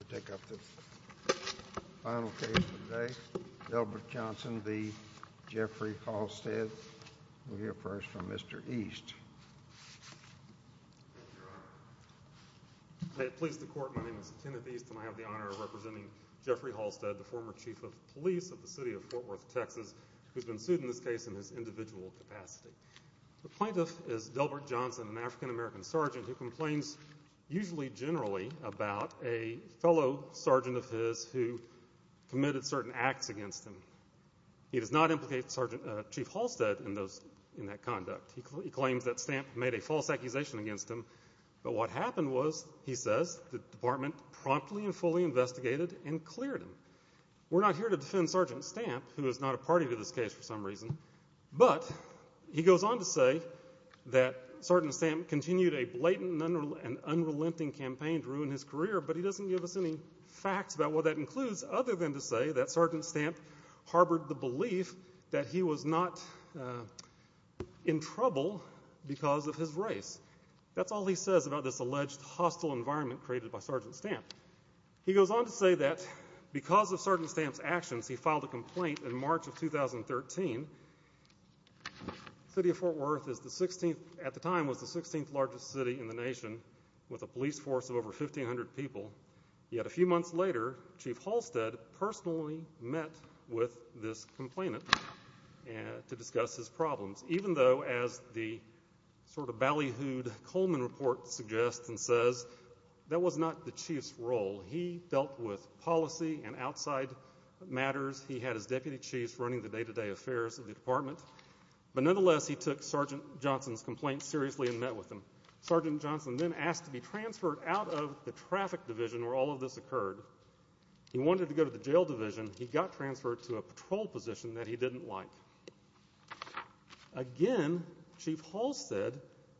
to take up the final case today. Delbert Johnson v. Jeffrey Halstead. We'll hear first from Mr. East. May it please the Court, my name is Kenneth East and I have the honor of representing Jeffrey Halstead, the former Chief of Police of the City of Fort Worth, Texas, who's been sued in this case in his individual capacity. The plaintiff is Delbert Johnson, an African Apollo sergeant of his who committed certain acts against him. He does not implicate Chief Halstead in that conduct. He claims that Stamp made a false accusation against him, but what happened was, he says, the department promptly and fully investigated and cleared him. We're not here to defend Sergeant Stamp, who is not a party to this case for some reason, but he goes on to say that Sergeant Stamp continued a blatant and unrelenting campaign to ruin his career, but he doesn't give us any facts about what that includes, other than to say that Sergeant Stamp harbored the belief that he was not in trouble because of his race. That's all he says about this alleged hostile environment created by Sergeant Stamp. He goes on to say that because of Sergeant Stamp's actions, he filed a complaint in March of 2013. The City of Fort Worth at the time was the 16th largest city in the nation with a police force of over 1,500 people, yet a few months later, Chief Halstead personally met with this complainant to discuss his problems, even though, as the sort of ballyhooed Coleman report suggests and says, that was not the chief's role. He dealt with policy and outside matters. He had his deputy chiefs running the day-to-day affairs of the department, but nonetheless, he took Sergeant Johnson's complaint seriously and met with him. Sergeant Johnson then asked to be transferred out of the traffic division where all of this occurred. He wanted to go to the jail division. He got transferred to a patrol position that he didn't like. Again, Chief Halstead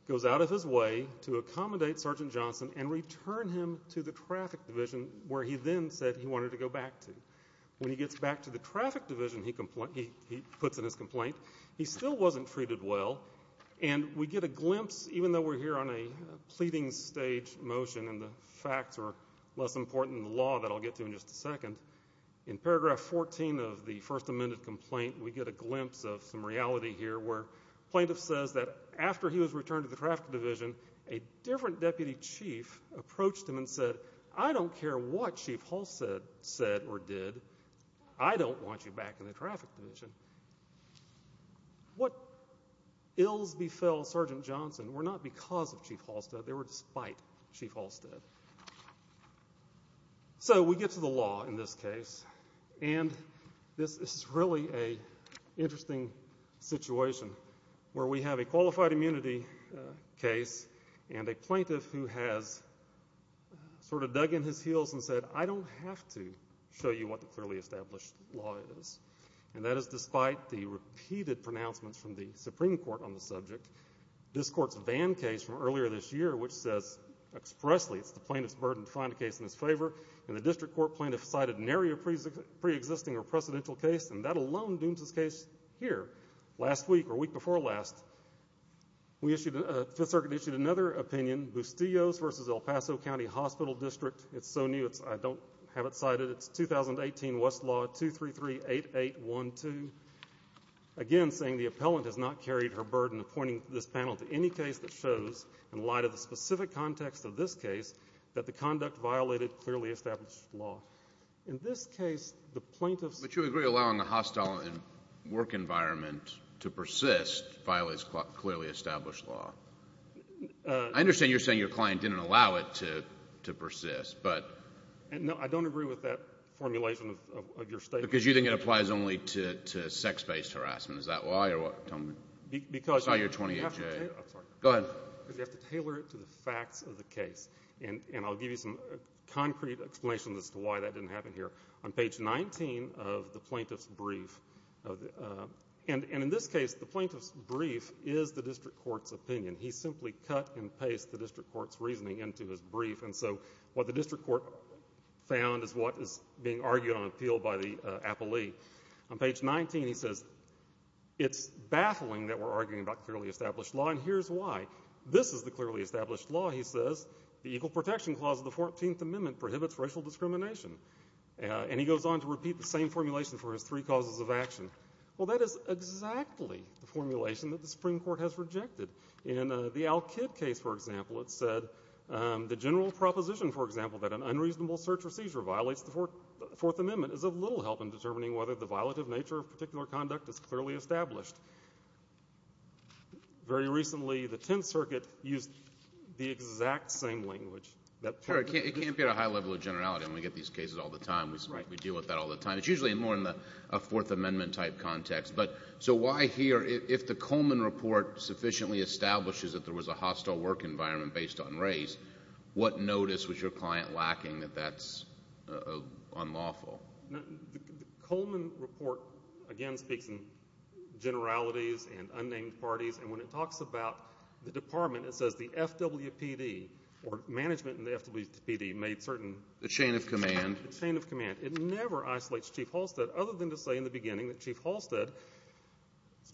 goes out of his way to accommodate Sergeant Johnson and return him to the traffic division where he then said he wanted to go back to. When he gets back to the traffic division he puts in his complaint, he still wasn't treated well, and we get a glimpse, even though we're here on a pleading stage motion and the facts are less important than the law that I'll get to in just a second, in paragraph 14 of the first amended complaint, we get a glimpse of some reality here where the plaintiff says that after he was returned to the traffic division, a different deputy chief approached him and said, I don't care what Chief Halstead said or did, I don't want you back in the truck. Ills befell Sergeant Johnson were not because of Chief Halstead, they were despite Chief Halstead. So we get to the law in this case and this is really an interesting situation where we have a qualified immunity case and a plaintiff who has sort of dug in his heels and said, I don't have to show you what the clearly established law is. And that is despite the repeated pronouncements from the Supreme Court on the subject, this court's Van case from earlier this year which says expressly it's the plaintiff's burden to find a case in his favor and the district court plaintiff cited an area pre-existing or precedential case and that alone dooms this case here. Last week, or week before last, we issued, Fifth Circuit issued another opinion, Bustillos v. El Paso County Hospital District, it's so new I don't have it cited, it's 2018 Westlaw 2338812, again saying the appellant has not carried her burden appointing this panel to any case that shows, in light of the specific context of this case, that the conduct violated clearly established law. In this case the plaintiff's... But you agree allowing a hostile work environment to persist violates clearly established law. I understand you're saying your client didn't allow it to persist, but... No, I don't agree with that formulation of your statement. Because you think it applies only to sex-based harassment, is that why or what? Tell me. Because... It's not your 28-J. Go ahead. Because you have to tailor it to the facts of the case. And I'll give you some concrete explanation as to why that didn't happen here. On page 19 of the plaintiff's brief, and in this case the plaintiff's brief is the district court's opinion. He simply cut and pasted the district court's reasoning into his brief, and so what the district court found is what is being argued on appeal by the appellee. On page 19 he says, it's baffling that we're arguing about clearly established law, and here's why. This is the clearly established law, he says. The Equal Protection Clause of the 14th Amendment prohibits racial discrimination. And he goes on to repeat the same formulation for his three causes of action. Well, that is exactly the formulation that the Supreme Court has rejected. In the Al Kidd case, for example, it said the general proposition, for example, that an unreasonable search or seizure violates the Fourth Amendment is of little help in determining whether the violative nature of particular conduct is clearly established. Very recently the Tenth Circuit used the exact same language. Sure, it can't be at a high level of generality when we get these cases all the time. We deal with that all the time. It's usually more in a Fourth Amendment-type context. But, so why here, if the Coleman Report sufficiently establishes that there was a hostile work environment based on race, what notice was your client lacking that that's unlawful? The Coleman Report, again, speaks in generalities and unnamed parties, and when it talks about the Department, it says the FWPD, or management in the FWPD, made certain... The chain of command. The chain of command. It never isolates Chief Halstead, other than to say in the beginning that Chief Halstead's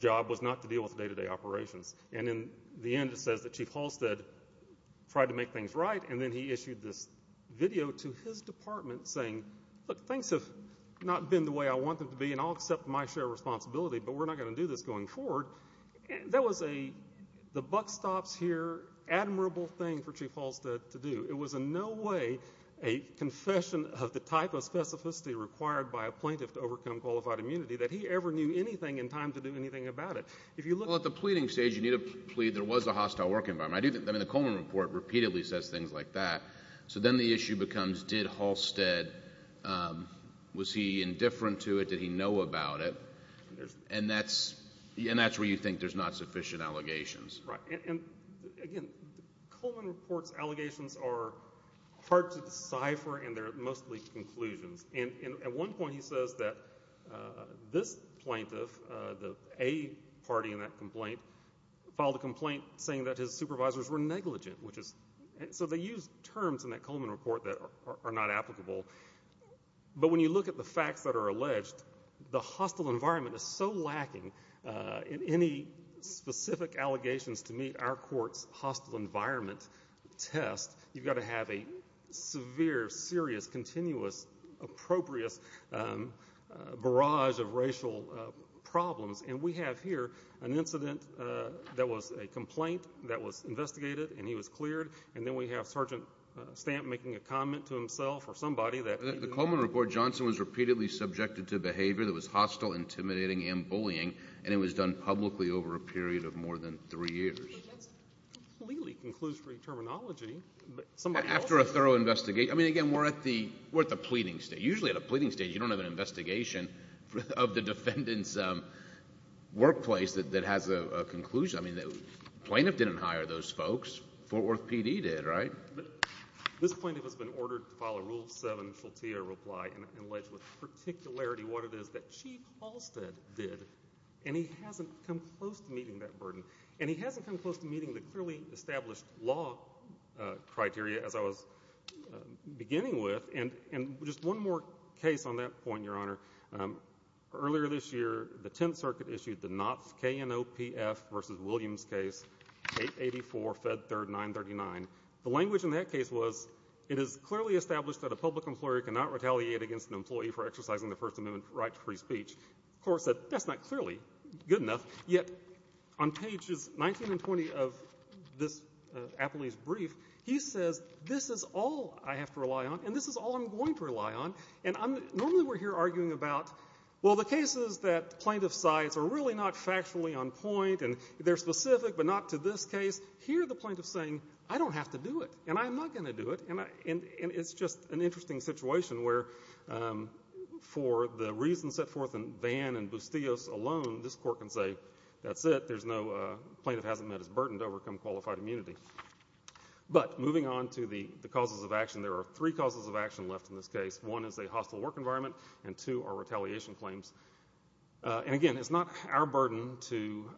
job was not to deal with day-to-day operations. And in the end it says that Chief Halstead tried to make things right, and then he issued this video to his department saying, look, things have not been the way I want them to be, and I'll accept my share of responsibility, but we're not going to do this going forward. That was a, the buck stops here, admirable thing for Chief Halstead to do. It was in no way a confession of the type of specificity required by a plaintiff to overcome qualified immunity that he ever knew anything in time to do anything about it. If you look... Well, at the pleading stage, you need to plead, there was a hostile work environment. I do think, I mean, the Coleman Report repeatedly says things like that. So then the issue becomes, did Halstead, was he indifferent to it? Did he know about it? And that's, and that's where you think there's not sufficient allegations. Right. And again, the Coleman Report's allegations are hard to decipher, and they're mostly conclusions. And at one point he says that this plaintiff, the A party in that complaint, filed a complaint saying that his supervisors were negligent, which is, so they used terms in that Coleman Report that are not applicable. But when you look at the facts that are alleged, the hostile environment is so lacking in any specific allegations to meet our court's hostile environment test, you've got to have a severe, serious, continuous, appropriate barrage of racial problems. And we have here an incident that was a complaint that was investigated, and he was cleared. And then we have Sergeant Stamp making a comment to himself or somebody that... The Coleman Report, Johnson was repeatedly subjected to behavior that was hostile, intimidating, and bullying, and it was done publicly over a period of more than three years. But that's completely conclusory terminology. But somebody else... After a thorough investigation. I mean, again, we're at the, we're at the pleading stage. Usually at a pleading stage, you don't have an investigation of the defendant's workplace that has a conclusion. I mean, the plaintiff didn't hire those folks. Fort Worth PD did, right? This plaintiff has been ordered to follow Rule 7, Filtia reply, and allege with particularity what it is that Chief Halstead did. And he hasn't come close to meeting that burden. And he hasn't come close to meeting the clearly established law criteria, as I was beginning with. And, and just one more case on that point, Your Honor. Earlier this year, the Tenth Circuit issued the Knopf, K-N-O-P-F, versus Williams case, 884, Fed Third, 939. The language in that case was, it is clearly established that a public employer cannot retaliate against an employee for exercising the First Amendment right to free speech. The court said, that's not clearly good enough. Yet on pages 19 and 20 of this appellee's brief, he says, this is all I have to rely on and this is all I'm going to rely on. And I'm, normally we're here arguing about, well, the cases that plaintiff cites are really not factually on point and they're specific but not to this case. Here, the plaintiff's saying, I don't have to do it and I'm not going to do it. It's just an interesting situation where, for the reasons set forth in Vann and Bustillos alone, this court can say, that's it, there's no, plaintiff hasn't met his burden to overcome qualified immunity. But, moving on to the, the causes of action, there are three causes of action left in this case. One is a hostile work environment and two are retaliation claims. And again, it's not our burden to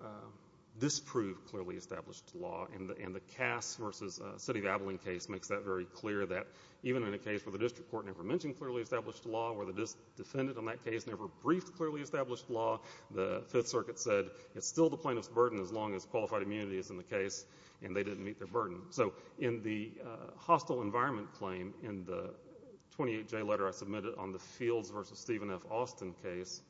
disprove clearly established law and the Cass v. City of Abilene case makes that very clear that even in a case where the district court never mentioned clearly established law, where the defendant in that case never briefed clearly established law, the Fifth Circuit said, it's still the plaintiff's burden as long as qualified immunity is in the case and they didn't meet their burden. So, in the hostile environment claim, in the 28J letter I submitted on the Fields v. Stephen F. Austin case,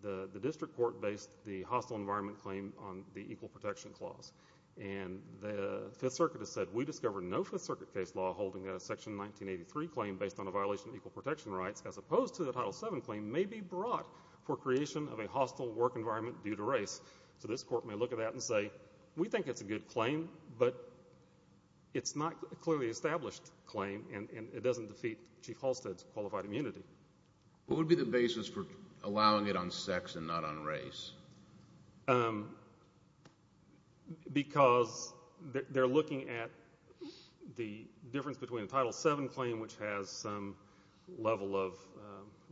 the, the district court based the hostile environment claim on the equal protection clause. And the Fifth Circuit has said, we discovered no Fifth Circuit case law holding a Section 1983 claim based on a violation of equal protection rights as opposed to the Title VII claim may be brought for creation of a hostile work environment due to race. So, this court may look at that and say, we think it's a good claim, but it's not a clearly established claim and, and it doesn't defeat Chief Halstead's qualified immunity. What would be the basis for allowing it on sex and not on race? Um, I think the reason, because they, they're looking at the difference between the Title VII claim, which has some level of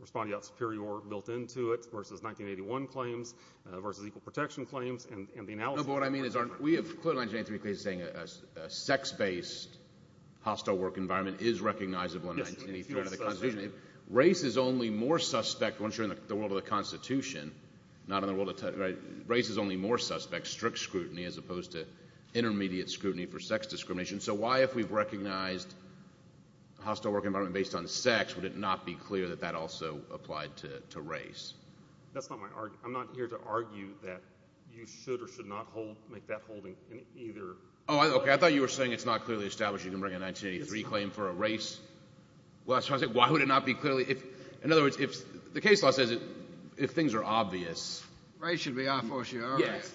respondeat superior built into it, versus 1981 claims, versus equal protection claims, and, and the analysis. No, but what I mean is, we have clearly in 1983 saying a, a sex-based hostile work environment is recognizable in 1983 under the Constitution. Race is only more suspect once you're in the world of the Constitution, not in the world of the, right? Race is only more suspect, strict scrutiny as opposed to intermediate scrutiny for sex discrimination. So, why if we've recognized a hostile work environment based on sex, would it not be clear that that also applied to, to race? That's not my, I'm not here to argue that you should or should not hold, make that holding in either. Oh, I, okay, I thought you were saying it's not clearly established you can bring a 1983 claim for a race. Well, I was trying to say, why would it not be clearly, if, in other words, if, the case law says it, if things are obvious. Right, it should be, I force you, all right. Yes.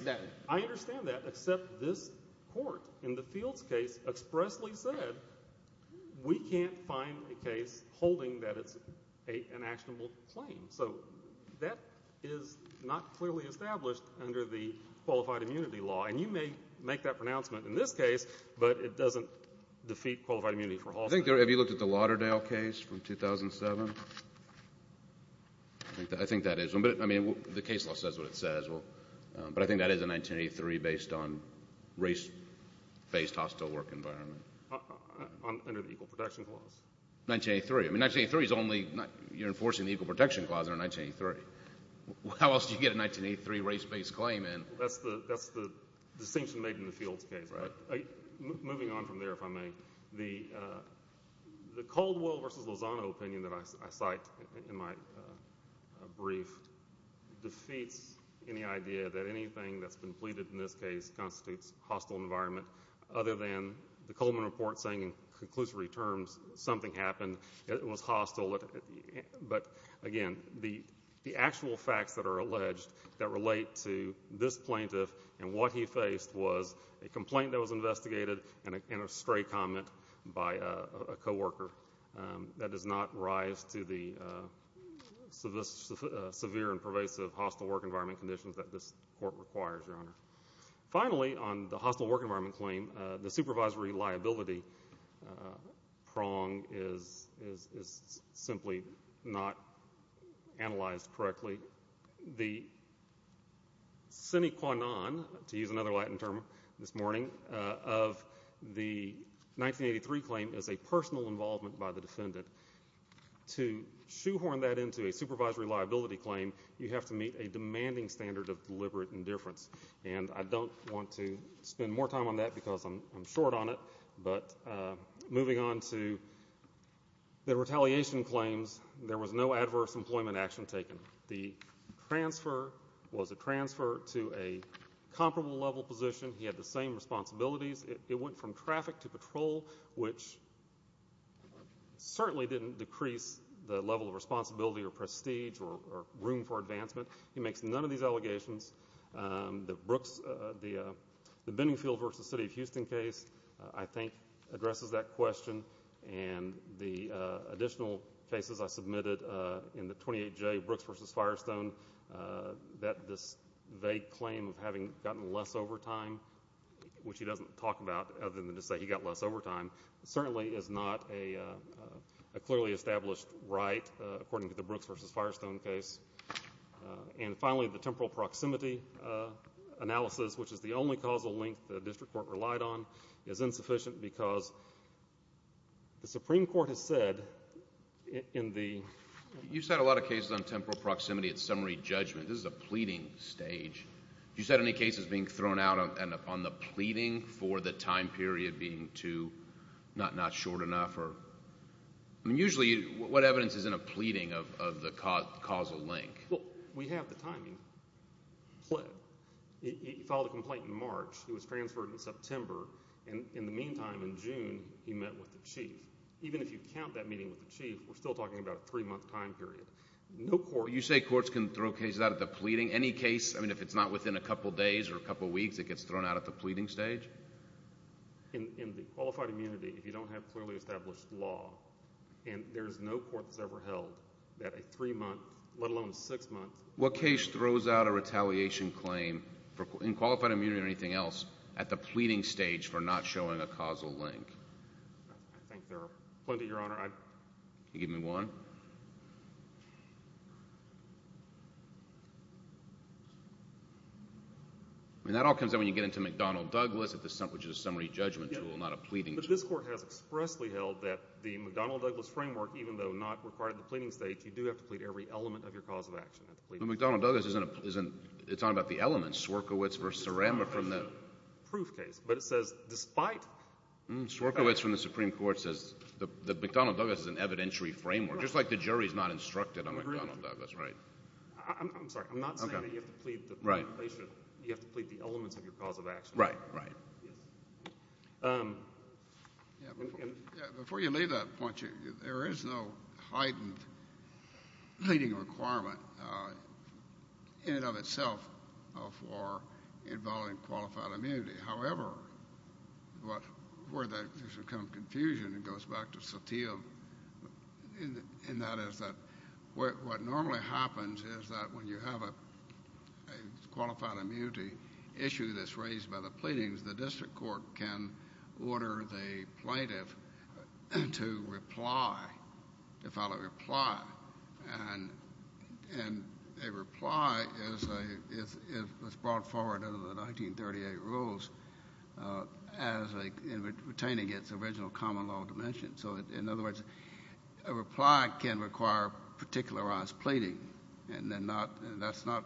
I understand that, except this Court, in the Fields case, expressly said, we can't find a case holding that it's a, an actionable claim. So, that is not clearly established under the qualified immunity law, and you may make that pronouncement in this case, but it doesn't defeat qualified immunity for hostile. I think there, have you looked at the Lauderdale case from 2007? I think that, I think that is one, but, I mean, the case law says what it says, well, but I think that is a 1983 based on race-based hostile work environment. Under the Equal Protection Clause. 1983, I mean, 1983 is only, you're enforcing the Equal Protection Clause under 1983. How else do you get a 1983 race-based claim in? That's the, that's the distinction made in the Fields case. Right. Moving on from there, if I may, the, the Caldwell versus Lozano opinion that I, I cite in my brief defeats any idea that anything that's been pleaded in this case constitutes hostile environment other than the Coleman Report saying, in conclusive returns, something happened, it was hostile, but again, the, the actual facts that are alleged that relate to this plaintiff and what he faced was a complaint that was investigated and a, and a stray comment by a, a coworker that does not rise to the severe and pervasive hostile work environment conditions that this court requires, Your Honor. Finally, on the hostile work environment claim, the supervisory liability prong is, is, is simply not analyzed correctly. The sine qua non to the extent to use another Latin term this morning of the 1983 claim is a personal involvement by the defendant. To shoehorn that into a supervisory liability claim, you have to meet a demanding standard of deliberate indifference, and I don't want to spend more time on that because I'm, I'm short on it, but moving on to the retaliation claims, there was no adverse employment action taken. The transfer was a transfer to a comparable level position. He had the same responsibilities. It, it went from traffic to patrol, which certainly didn't decrease the level of responsibility or prestige or, or room for advancement. He makes none of these allegations. The Brooks, the, the Benningfield v. City of Houston case, I think, addresses that question, and the additional cases I submitted in the 28J Brooks v. Firestone, that this vague claim of having gotten less overtime, which he doesn't talk about other than to say he got less overtime, certainly is not a, a clearly established right according to the Brooks v. Firestone case. And finally, the temporal proximity analysis, which is the only causal link the district court relied on, is insufficient because the Supreme Court has said in the... You've said a lot of cases on temporal proximity at summary judgment. This is a pleading stage. You said any cases being thrown out on, on the pleading for the time period being too, not, not short enough, or... I mean, usually what evidence is in a pleading of, of the causal link? Well, we have the timing. He filed a complaint in March. He was transferred in September, and in the meantime, in June, he met with the Chief. Even if you count that meeting with the Chief, we're still talking about a three-month time period. No court... You say courts can throw cases out at the pleading? Any case, I mean, if it's not within a couple days or a couple weeks, it gets thrown out at the pleading stage? In the qualified immunity, if you don't have clearly established law, and there's no court that's ever held that a three-month, let alone a six-month... What case throws out a retaliation claim in qualified immunity or anything else at the pleading stage for not showing a causal link? I think there are plenty, Your Honor. I... Can you give me one? I mean, that all comes out when you get into McDonnell-Douglas at the... which is a summary judgment tool, not a pleading tool. But this Court has expressly held that the McDonnell-Douglas framework, even though not required at the pleading stage, you do have to plead every element of your cause of action at the pleading stage. But McDonnell-Douglas isn't... they're talking about the elements, Swierkiewicz v. Saranba from the... It's not a proof case, but it says, despite... Swierkiewicz from the Supreme Court says that McDonnell-Douglas is an evidentiary framework, just like the jury is not instructed on McDonnell-Douglas, right? I'm sorry. I'm not saying that you have to plead the... Right. You have to plead the elements of your cause of action. Right, right. Before you leave that point, there is no heightened pleading requirement in and of itself for involving qualified immunity. However, where there's a kind of confusion, it goes back to Satya, and that is that what normally happens is that when you have a qualified immunity issue that's raised by the pleadings, the district court can order the plaintiff to reply, to file a reply, and a reply is brought forward under the 1938 rules as a... retaining its original common law dimension. So in other words, a reply can require particularized pleading, and that's not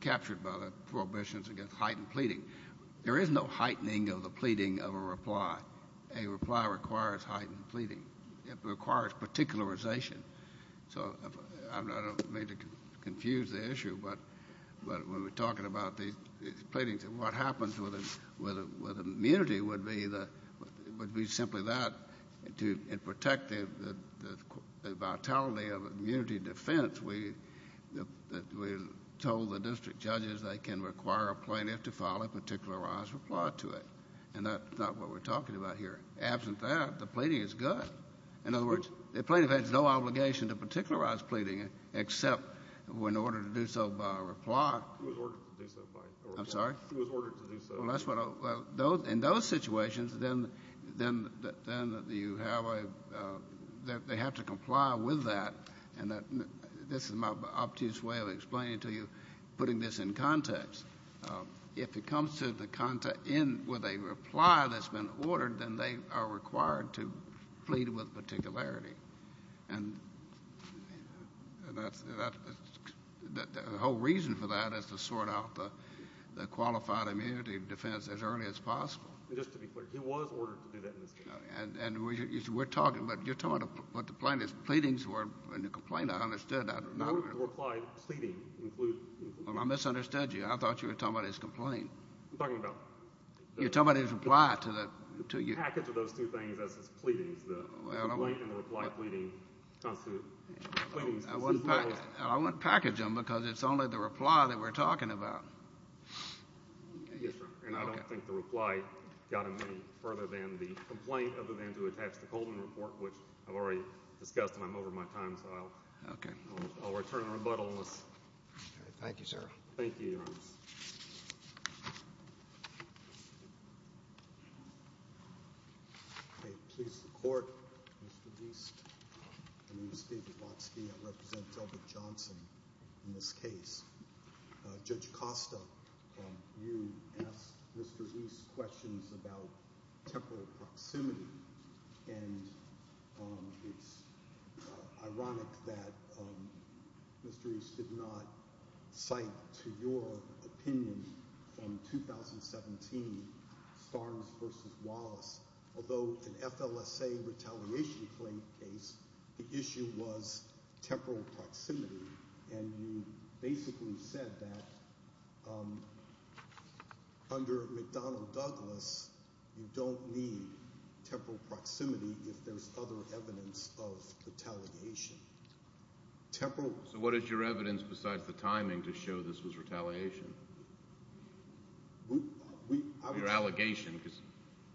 captured by the prohibitions against heightened pleading. There is no heightening of the pleading of a reply. A reply requires heightened pleading. It requires particularization. So I don't mean to confuse the issue, but when we're talking about these pleadings, what happens with immunity would be simply that, to protect the vitality of immunity defense, we told the district judges they can require a plaintiff to file a particularized reply to it, and that's not what we're talking about here. Absent that, the pleading is good. In other words, the plaintiff has no obligation to particularize pleading except in order to do so by a reply. It was ordered to do so by a reply. I'm sorry? It was ordered to do so. Well, that's what... in those situations, then you have a... they have to comply with that, and this is my obtuse way of explaining to you, putting this in context. If it comes to the... with a reply that's been ordered, then they are required to plead with particularity, and that's... the whole reason for that is to sort out the qualified immunity defense as early as possible. Just to be clear, it was ordered to do that in this case. And we're talking... but you're talking about what the plaintiff's pleadings were in the complaint. I understood that. No reply pleading includes... Well, I misunderstood you. I thought you were talking about his complaint. I'm talking about... You're talking about his reply to the... The package of those two things is his pleadings. The complaint and the reply pleading constitute pleadings... I wouldn't package them, because it's only the reply that we're talking about. Yes, sir. And I don't think the reply got him any further than the complaint, other than to attach the Coleman Report, which I've already discussed, and I'm over my time, so I'll... Okay. I'll return a rebuttal unless... All right. Thank you, sir. Thank you, Your Honor. Okay. Please. The Court is reduced. My name is David Watsky. I represent Dilbert Johnson in this case. Judge Costa, you asked Mr. East questions about temporal proximity, and it's ironic that Mr. East did not cite, to your opinion, from 2017, Starnes v. Wallace, although in FLSA retaliation claim case, the issue was temporal proximity, and you basically said that under McDonnell Douglas, you don't need temporal proximity if there's other evidence of retaliation. Temporal... So what is your evidence besides the timing to show this was retaliation? Your allegation, because...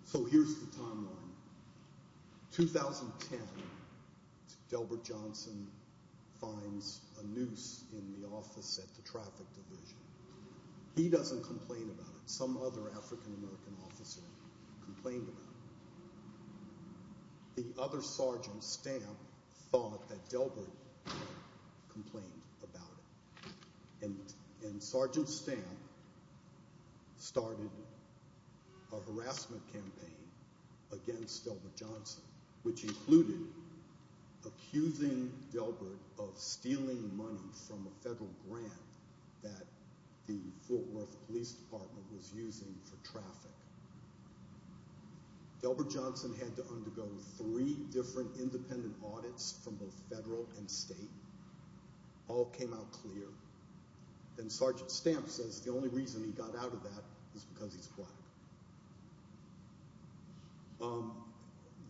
So here's the timeline. 2010, Dilbert Johnson finds a noose in the office at the traffic division. He doesn't complain about it. Some other African American officer complained about it. The other sergeant, Stamp, thought that Dilbert complained about it. And Sergeant Stamp started a harassment campaign against Dilbert Johnson, which included accusing Dilbert of stealing money from a federal grant that the Fort Worth Police Department was using for traffic. Dilbert Johnson had to undergo three different independent audits from both federal and state. All came out clear. And Sergeant Stamp says the only reason he got out of that is because he's black.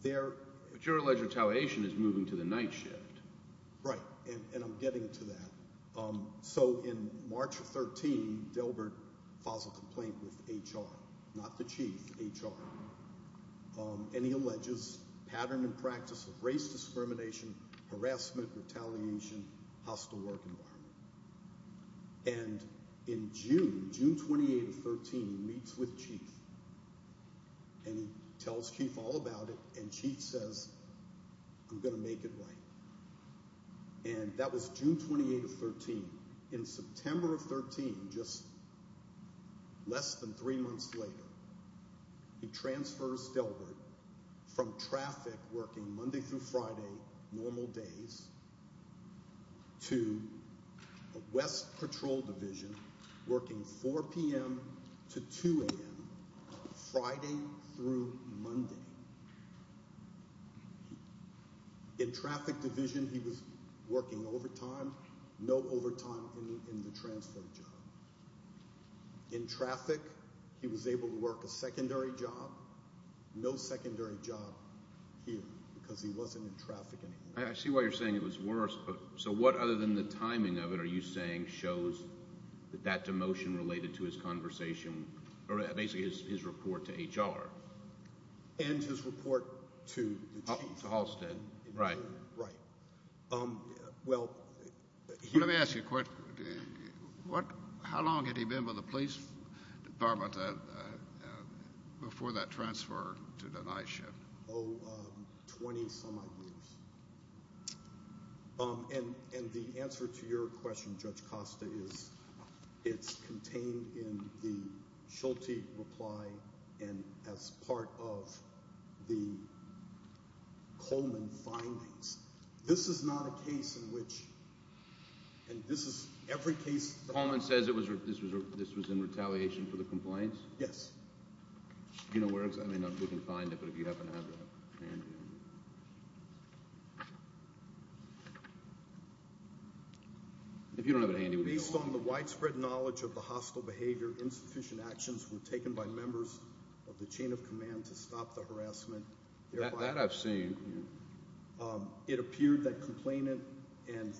There... But you're alleging retaliation is moving to the night shift. Right, and I'm getting to that. So in March of 13, Dilbert files a complaint with HR. Not the chief, HR. And he alleges pattern and practice of race discrimination, harassment, retaliation, hostile work environment. And in June, June 28 of 13, he meets with Chief. And he tells Chief all about it, and Chief says, I'm going to make it right. And that was June 28 of 13. In September of 13, just less than three months later, he transfers Dilbert from traffic working Monday through Friday, normal days, to the West Patrol Division working 4 p.m. to 2 a.m. Friday through Monday. In traffic division, he was working overtime. No overtime in the transfer job. In traffic, he was able to work a secondary job. No secondary job here, because he wasn't in traffic anymore. I see why you're saying it was worse. So what other than the timing of it are you saying shows that that demotion related to his conversation, or basically his report to HR? And his report to the chief. To Halstead, right. Right. Well, he Let me ask you a question. How long had he been with the police department before that transfer to the night shift? Oh, 20-some odd years. And the answer to your question, Judge Costa, is it's contained in the Schulte reply and as part of the Coleman findings. This is not a case in which, and this is every case that Coleman says this was in retaliation for the complaints? Yes. I mean, we can find it, but if you happen to have it handy. If you don't have it handy, we can go on. Based on the widespread knowledge of the hostile behavior, insufficient actions were taken by members of the chain of command to stop the harassment. That I've seen. It appeared that complainant and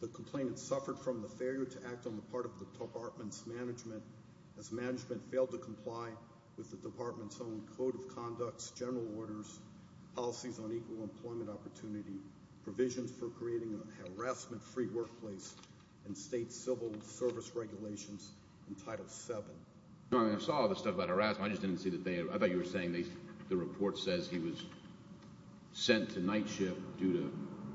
the complainant suffered from the failure to act on the part of the department's management as management failed to comply with the department's own code of conducts, general orders, policies on equal employment opportunity, provisions for creating a harassment-free workplace, and state civil service regulations in Title VII. I mean, I saw all this stuff about harassment, I just didn't see that they, I thought you were saying the report says he was sent to night shift to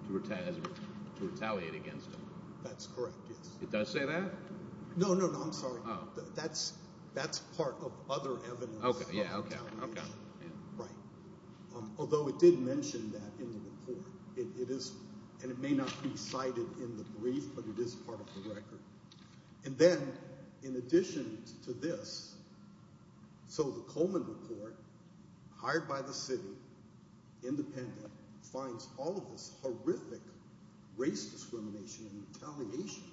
retaliate against him. That's correct, yes. It does say that? No, no, no, I'm sorry. Oh. That's part of other evidence of retaliation. Okay, yeah, okay, okay. Right. Although it did mention that in the report. It is, and it may not be cited in the brief, but it is part of the record. And then, in addition to this, so the Coleman report, hired by the city, independent, finds all of this horrific race discrimination and retaliation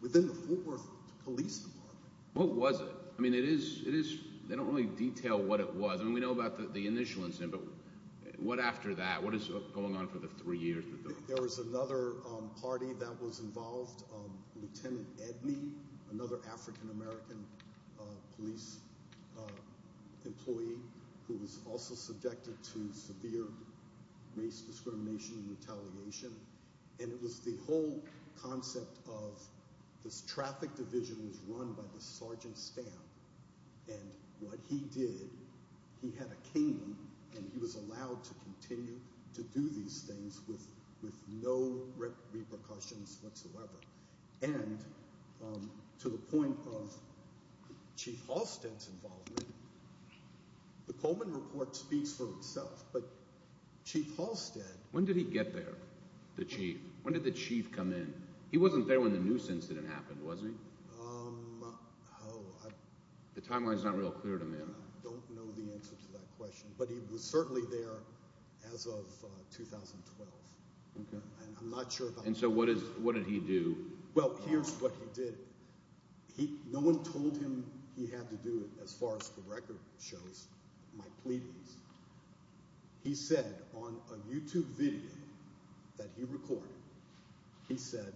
within the Fort Worth Police Department. What was it? I mean, it is, they don't really detail what it was. I mean, we know about the initial incident, but what after that? What is going on for the three years? There was another party that was involved, Lieutenant Edney, another African American police employee who was also subjected to severe race discrimination and retaliation. And it was the whole concept of this traffic division was run by this Sergeant Stamp. And what he did, he had a cane, and he was allowed to continue to do these things with no repercussions whatsoever. And to the point of Chief Halstead's involvement, the Coleman report speaks for itself. But Chief Halstead… When did he get there, the Chief? When did the Chief come in? He wasn't there when the Noose incident happened, was he? The timeline is not real clear to me. I don't know the answer to that question, but he was certainly there as of 2012. And so what did he do? Well, here's what he did. No one told him he had to do it, as far as the record shows. My pleadings. He said on a YouTube video that he recorded, he said,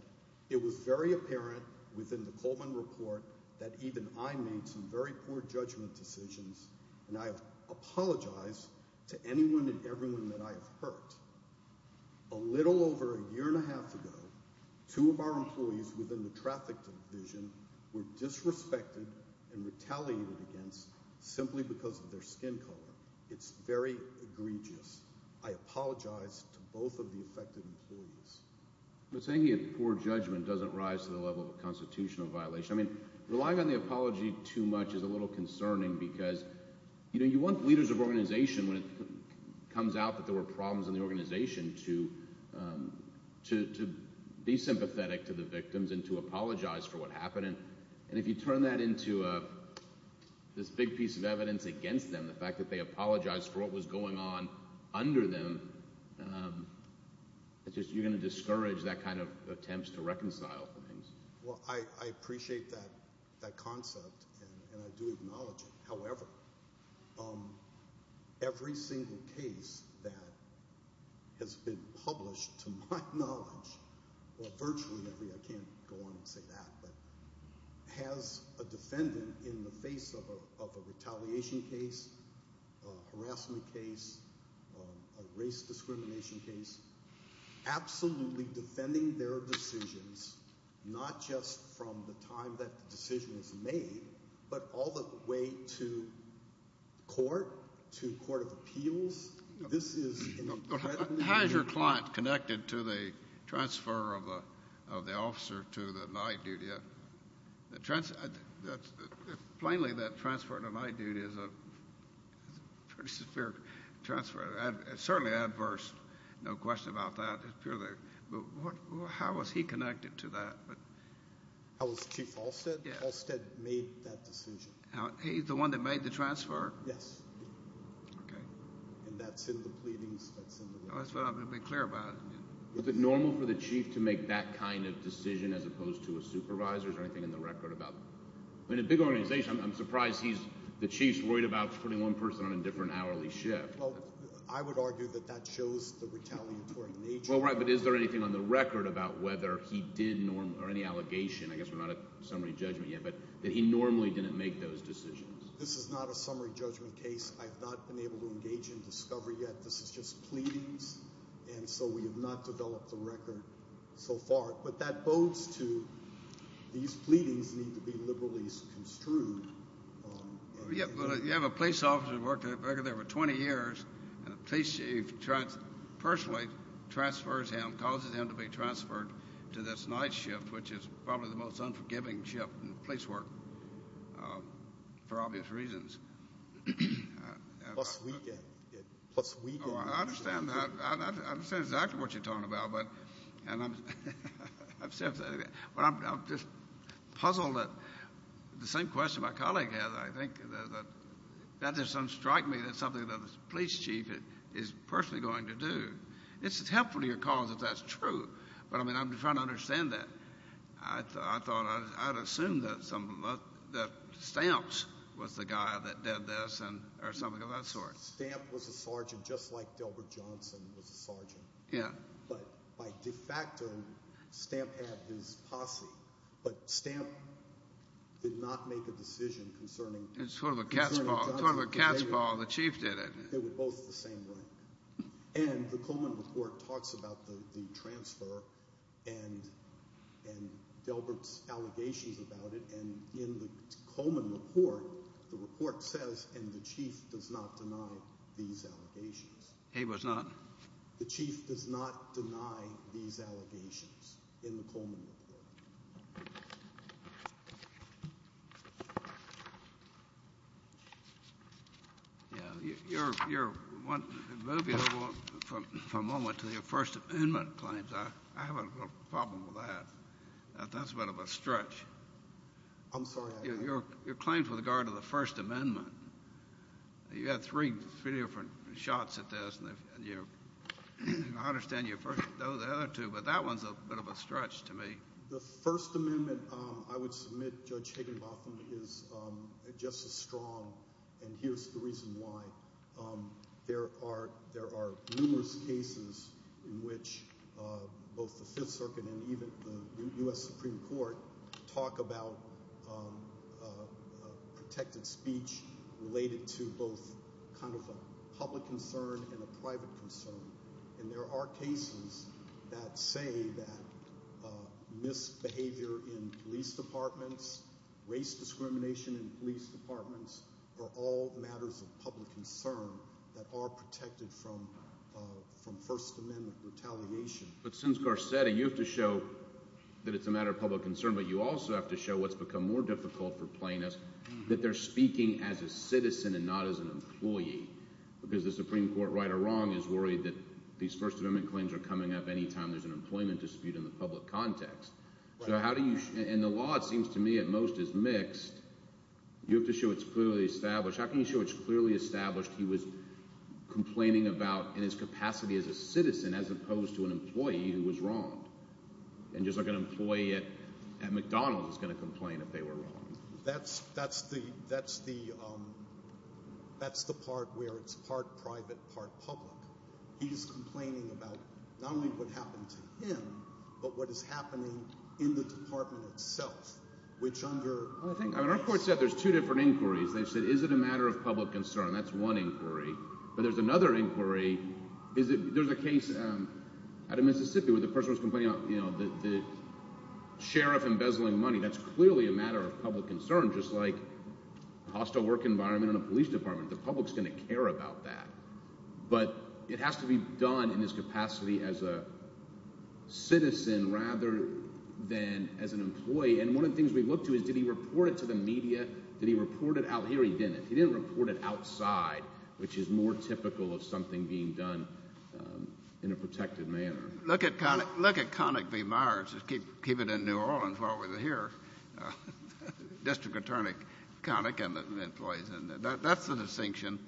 It was very apparent within the Coleman report that even I made some very poor judgment decisions, and I apologize to anyone and everyone that I have hurt. A little over a year and a half ago, two of our employees within the traffic division were disrespected and retaliated against simply because of their skin color. It's very egregious. I apologize to both of the affected employees. But saying he had poor judgment doesn't rise to the level of constitutional violation. Relying on the apology too much is a little concerning because you want leaders of organization, when it comes out that there were problems in the organization, to be sympathetic to the victims and to apologize for what happened. And if you turn that into this big piece of evidence against them, the fact that they apologized for what was going on under them, you're going to discourage that kind of attempt to reconcile. Well, I appreciate that concept and I do acknowledge it. However, every single case that has been published to my knowledge, or virtually every, I can't go on and say that, but has a defendant in the face of a retaliation case. A harassment case. A race discrimination case. Absolutely defending their decisions, not just from the time that the decision was made, but all the way to court, to court of appeals. How is your client connected to the transfer of the officer to the night duty? Plainly, that transfer to night duty is a pretty severe transfer. It's certainly adverse, no question about that. But how was he connected to that? How was Chief Halstead? Halstead made that decision. He's the one that made the transfer? Yes. And that's in the pleadings? That's what I'm going to be clear about. Is it normal for the Chief to make that kind of decision as opposed to a supervisor? Is there anything in the record about that? In a big organization, I'm surprised the Chief's worried about putting one person on a different hourly shift. Well, I would argue that that shows the retaliatory nature. Well, right, but is there anything on the record about whether he did, or any allegation, I guess we're not at summary judgment yet, but that he normally didn't make those decisions? This is not a summary judgment case. I have not been able to engage in discovery yet. This is just pleadings, and so we have not developed a record so far. But that bodes to these pleadings need to be liberally construed. Well, you have a police officer who worked there for 20 years, and the police chief personally transfers him, causes him to be transferred to this night shift, which is probably the most unforgiving shift in police work for obvious reasons. Plus weekend. I understand exactly what you're talking about. I'm just puzzled at the same question my colleague has. I think that doesn't strike me as something that a police chief is personally going to do. It's helpful to your cause if that's true, but, I mean, I'm trying to understand that. I thought I'd assume that Stamps was the guy that did this or something of that sort. Stamps was a sergeant just like Dilbert Johnson was a sergeant. Yeah. But by de facto, Stamps had his posse, but Stamps did not make a decision concerning Johnson. It's sort of a cat's paw. It's sort of a cat's paw. The chief did it. They were both the same way. And the Coleman report talks about the transfer and Dilbert's allegations about it. And in the Coleman report, the report says, and the chief does not deny these allegations. He was not. The chief does not deny these allegations in the Coleman report. Yeah. You're moving for a moment to your First Amendment claims. I have a problem with that. That's a bit of a stretch. I'm sorry. Your claims with regard to the First Amendment, you had three different shots at this, and I understand you know the other two, but that one's a bit of a stretch to me. The First Amendment, I would submit, Judge Higginbotham, is just as strong, and here's the reason why. There are numerous cases in which both the Fifth Circuit and even the U.S. Supreme Court talk about protected speech related to both kind of a public concern and a private concern. And there are cases that say that misbehavior in police departments, race discrimination in police departments are all matters of public concern that are protected from First Amendment retaliation. But since Garcetti, you have to show that it's a matter of public concern, but you also have to show what's become more difficult for plaintiffs, that they're speaking as a citizen and not as an employee, because the Supreme Court, right or wrong, is worried that these First Amendment claims are coming up any time there's an employment dispute in the public context. And the law, it seems to me, at most, is mixed. You have to show it's clearly established. How can you show it's clearly established he was complaining about in his capacity as a citizen as opposed to an employee who was wrong? And just like an employee at McDonald's is going to complain if they were wrong. That's the part where it's part private, part public. He's complaining about not only what happened to him, but what is happening in the department itself, which under— Our court said there's two different inquiries. They said, is it a matter of public concern? That's one inquiry. But there's another inquiry. There's a case out of Mississippi where the person was complaining about the sheriff embezzling money. That's clearly a matter of public concern, just like a hostile work environment in a police department. The public's going to care about that. But it has to be done in his capacity as a citizen rather than as an employee. And one of the things we look to is did he report it to the media? Did he report it out here or he didn't? He didn't report it outside, which is more typical of something being done in a protected manner. Look at Connick v. Myers. Just keep it in New Orleans while we're here. District Attorney Connick and the employees. That's the distinction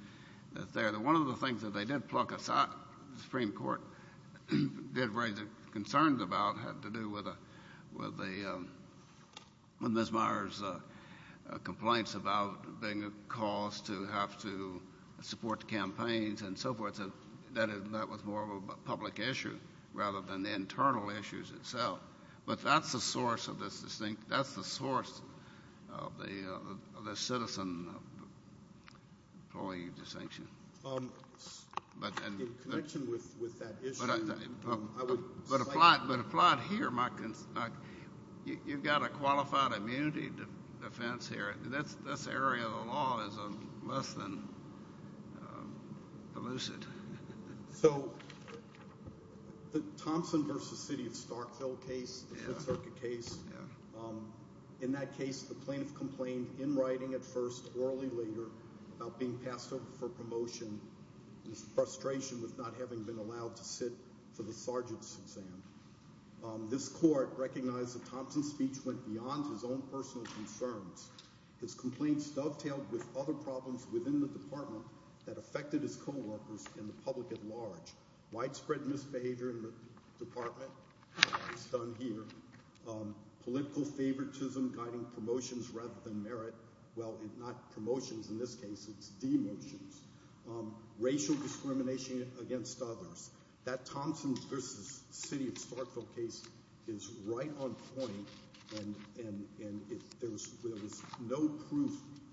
there. One of the things that they did pluck aside, the Supreme Court did raise concerns about, had to do with Ms. Myers' complaints about being a cause to have to support the campaigns and so forth. That was more of a public issue rather than the internal issues itself. But that's the source of this distinction. That's the source of the citizen-employee distinction. In connection with that issue, I would cite. But apply it here. You've got a qualified immunity defense here. This area of the law is less than elusive. So the Thompson v. City of Starkville case, the Fifth Circuit case, in that case the plaintiff complained in writing at first, orally later, about being passed over for promotion. His frustration with not having been allowed to sit for the sergeant's exam. This court recognized that Thompson's speech went beyond his own personal concerns. His complaints dovetailed with other problems within the department that affected his co-workers and the public at large. Widespread misbehavior in the department, as is done here. Political favoritism guiding promotions rather than merit. Well, not promotions in this case. It's demotions. Racial discrimination against others. That Thompson v. City of Starkville case is right on point. And there was no proof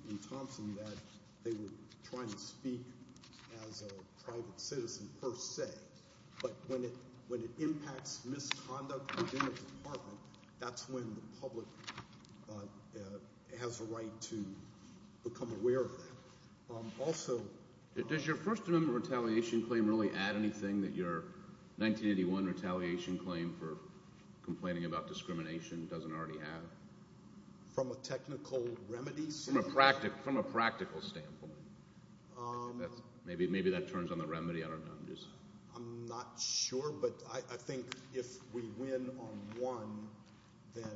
in Thompson that they were trying to speak as a private citizen per se. But when it impacts misconduct within the department, that's when the public has a right to become aware of that. Also— Does your First Amendment retaliation claim really add anything that your 1981 retaliation claim for complaining about discrimination doesn't already have? From a technical remedy? From a practical standpoint. Maybe that turns on the remedy. I don't know. I'm not sure, but I think if we win on one, then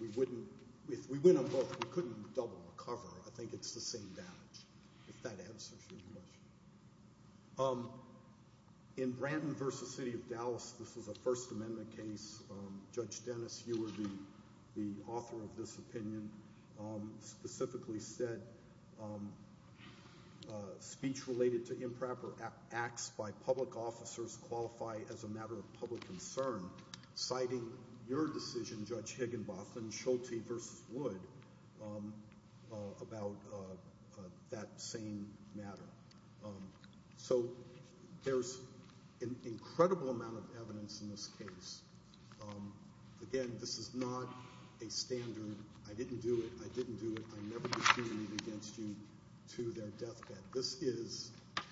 we wouldn't—if we win on both, we couldn't double the cover. I think it's the same damage, if that answers your question. In Branton v. City of Dallas, this is a First Amendment case. Judge Dennis, you were the author of this opinion, specifically said speech related to improper acts by public officers qualify as a matter of public concern, citing your decision, Judge Higginbotham, Schulte v. Wood, about that same matter. So there's an incredible amount of evidence in this case. Again, this is not a standard, I didn't do it, I didn't do it, I never did anything against you, to their deathbed. This is a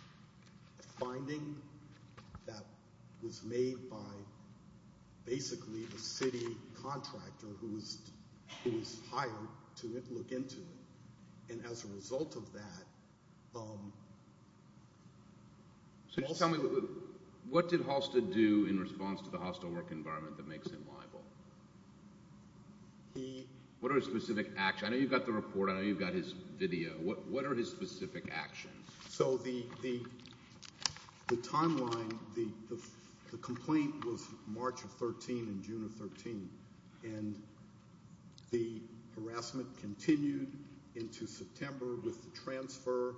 finding that was made by basically the city contractor who was hired to look into it. And as a result of that, Halstead— So just tell me, what did Halstead do in response to the hostile work environment that makes him liable? What are his specific actions? I know you've got the report, I know you've got his video. What are his specific actions? So the timeline, the complaint was March of 13 and June of 13. And the harassment continued into September with the transfer.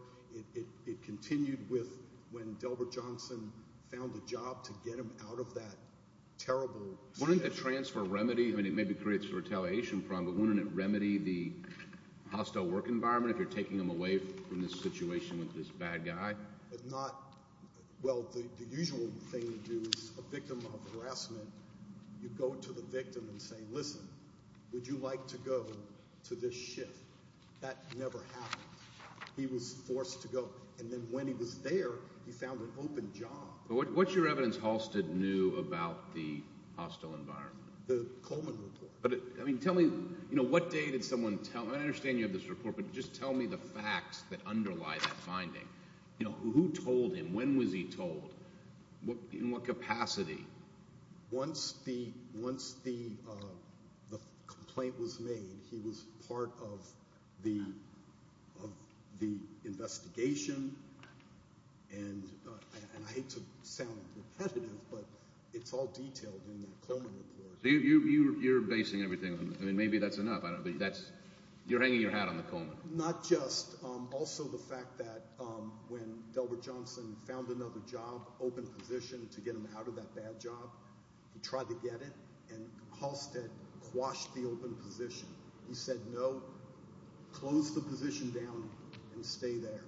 It continued with when Delbert Johnson found a job to get him out of that terrible situation. Wouldn't the transfer remedy—I mean, it maybe creates a retaliation problem, but wouldn't it remedy the hostile work environment if you're taking him away from this situation with this bad guy? Well, the usual thing to do is, a victim of harassment, you go to the victim and say, listen, would you like to go to this shift? That never happened. He was forced to go. And then when he was there, he found an open job. What's your evidence Halstead knew about the hostile environment? The Coleman report. I mean, tell me, what day did someone tell—I understand you have this report, but just tell me the facts that underlie that finding. Who told him? When was he told? In what capacity? Once the complaint was made, he was part of the investigation, and I hate to sound repetitive, but it's all detailed in the Coleman report. So you're basing everything on—I mean, maybe that's enough, but you're hanging your hat on the Coleman. Not just—also the fact that when Delbert Johnson found another job, open position, to get him out of that bad job, he tried to get it, and Halstead quashed the open position. He said, no, close the position down and stay there.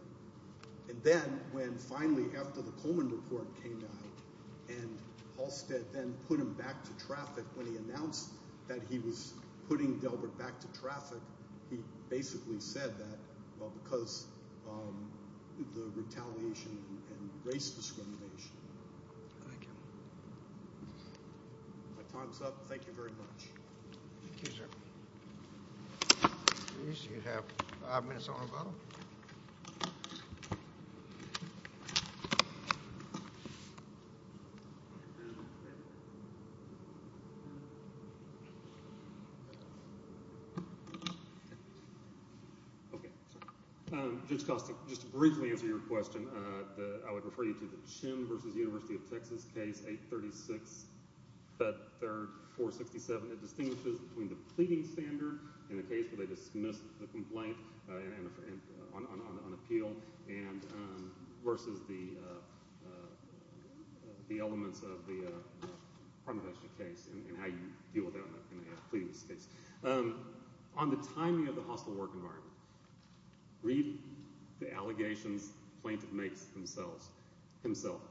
And then when finally after the Coleman report came out and Halstead then put him back to traffic, when he announced that he was putting Delbert back to traffic, he basically said that, well, because of the retaliation and race discrimination. Thank you. My time's up. Thank you very much. Thank you, sir. Bruce, you have five minutes on the phone. Okay. Judge Costa, just to briefly answer your question, I would refer you to the Chin v. University of Texas case 836. That third, 467, it distinguishes between the pleading standard in the case where they dismiss the complaint on appeal versus the elements of the Armadestri case and how you deal with that in a pleading case. On the timing of the hostile work environment, read the allegations the plaintiff makes himself.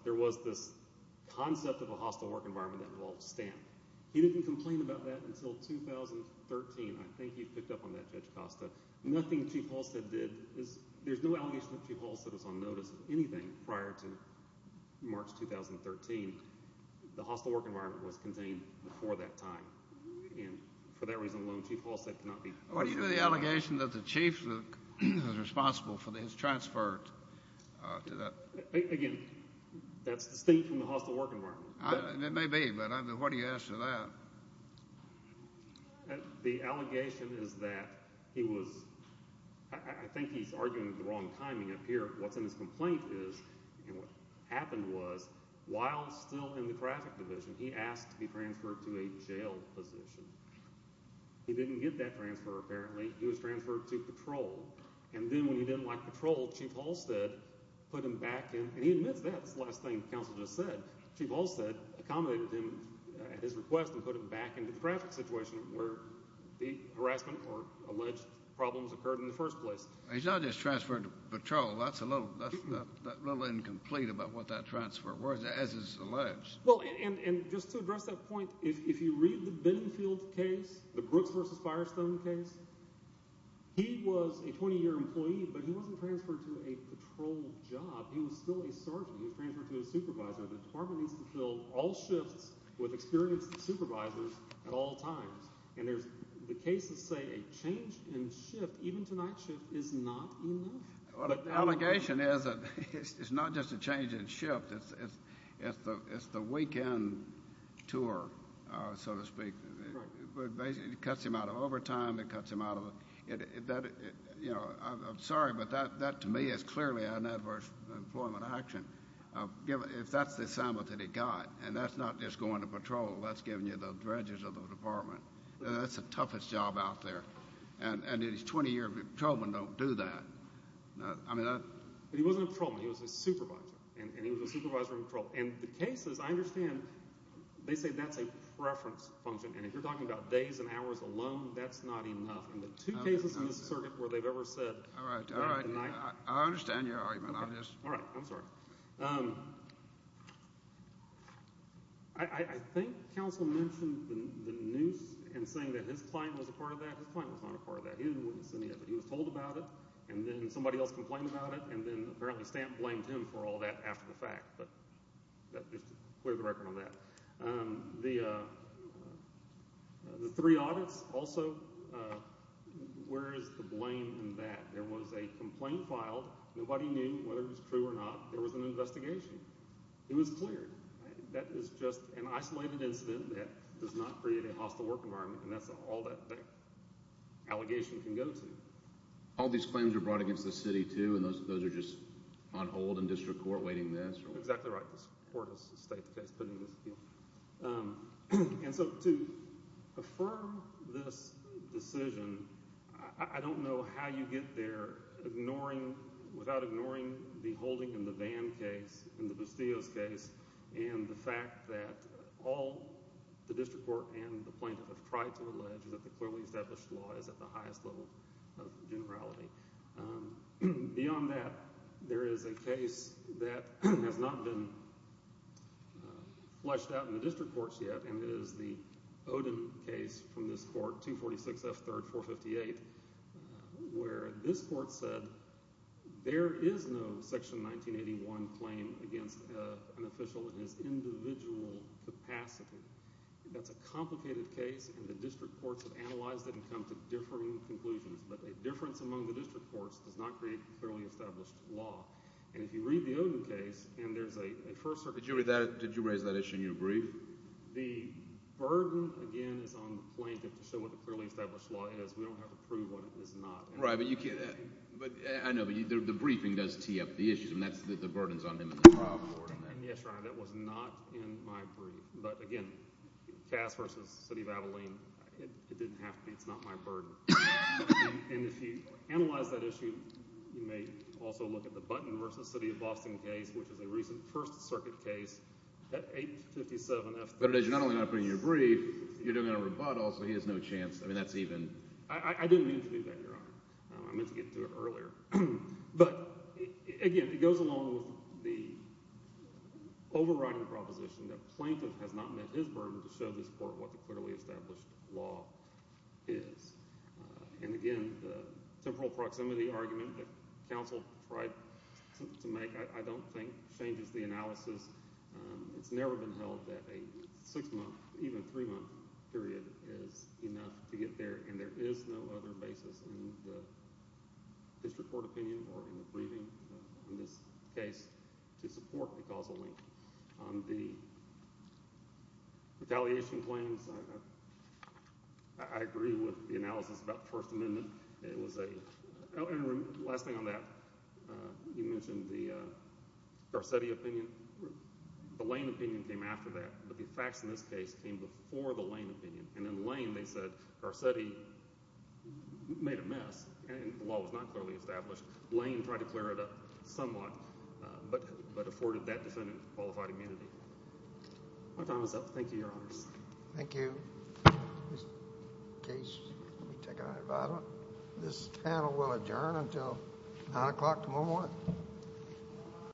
There was this concept of a hostile work environment that revolved stamp. He didn't complain about that until 2013. I think you picked up on that, Judge Costa. Nothing Chief Halstead did is – there's no allegation that Chief Halstead was on notice of anything prior to March 2013. The hostile work environment was contained before that time, and for that reason alone, Chief Halstead cannot be – What is the allegation that the chief who is responsible for this transferred to the – Again, that's distinct from the hostile work environment. It may be, but what do you ask for that? The allegation is that he was – I think he's arguing the wrong timing up here. What's in his complaint is – and what happened was while still in the traffic division, he asked to be transferred to a jail position. He didn't get that transfer, apparently. He was transferred to patrol, and then when he didn't like patrol, Chief Halstead put him back in – and he admits that. That's the last thing the counsel just said. Chief Halstead accommodated him at his request and put him back in the traffic situation where the harassment or alleged problems occurred in the first place. He's not just transferred to patrol. That's a little incomplete about what that transfer was, as is alleged. Well, and just to address that point, if you read the Benfield case, the Brooks v. Firestone case, he was a 20-year employee, but he wasn't transferred to a patrol job. He was still a sergeant. He was transferred to a supervisor. The department needs to fill all shifts with experienced supervisors at all times, and the cases say a change in shift, even tonight's shift, is not enough. Well, the allegation is that it's not just a change in shift. It's the weekend tour, so to speak. It cuts him out of overtime. It cuts him out of – I'm sorry, but that to me is clearly an adverse employment action. If that's the assignment that he got, and that's not just going to patrol, that's giving you the dredges of the department. That's the toughest job out there. And a 20-year patrolman don't do that. But he wasn't a patrolman. He was a supervisor, and he was a supervisor in patrol. And the cases, I understand, they say that's a preference function, and if you're talking about days and hours alone, that's not enough. In the two cases in this circuit where they've ever said – All right, all right. I understand your argument on this. All right. I'm sorry. I think counsel mentioned the noose in saying that his client was a part of that. His client was not a part of that. He wasn't submitting it, but he was told about it, and then somebody else complained about it, and then apparently Stanton blamed him for all that after the fact. But just to clear the record on that. The three audits also, where is the blame in that? There was a complaint filed. Nobody knew whether it was true or not. There was an investigation. It was clear. That is just an isolated incident that does not create a hostile work environment, and that's all that allegation can go to. All these claims are brought against the city, too, and those are just on hold in district court waiting this? Exactly right. This court is the state that's putting this in. And so to affirm this decision, I don't know how you get there without ignoring the holding in the Vann case, in the Bustillos case, and the fact that all the district court and the plaintiff have tried to allege that the clearly established law is at the highest level of generality. Beyond that, there is a case that has not been fleshed out in the district courts yet, and it is the Oden case from this court, 246 F. 3rd, 458, where this court said there is no Section 1981 claim against an official in his individual capacity. That's a complicated case, and the district courts have analyzed it and come to differing conclusions. But a difference among the district courts does not create a clearly established law. And if you read the Oden case, and there's a first circuit… Did you raise that issue in your brief? The burden, again, is on the plaintiff to show what the clearly established law is. We don't have to prove what it is not. Right, but you can't – I know, but the briefing does tee up the issues, and that's the burdens on him. Yes, Your Honor, that was not in my brief. But again, Cass v. City of Abilene, it didn't have to be. It's not my burden. And if you analyze that issue, you may also look at the Button v. City of Boston case, which is a recent first circuit case at 857 F 3rd. But you're not only not putting it in your brief, you're doing a rebuttal, so he has no chance. I mean that's even – I didn't mean to do that, Your Honor. I meant to get through it earlier. But again, it goes along with the overriding proposition that plaintiff has not met his burden to show this court what the clearly established law is. And again, the temporal proximity argument that counsel tried to make I don't think changes the analysis. It's never been held that a six-month, even three-month period is enough to get there, and there is no other basis in the district court opinion or in the briefing on this case to support the causal link. On the retaliation claims, I agree with the analysis about the First Amendment. It was a – and last thing on that, you mentioned the Garcetti opinion. The Lane opinion came after that, but the facts in this case came before the Lane opinion. And in Lane they said Garcetti made a mess, and the law was not clearly established. Lane tried to clear it up somewhat, but afforded that defendant qualified immunity. My time is up. Thank you, Your Honors. Thank you. In case you want to take an item, this panel will adjourn until 9 o'clock tomorrow morning.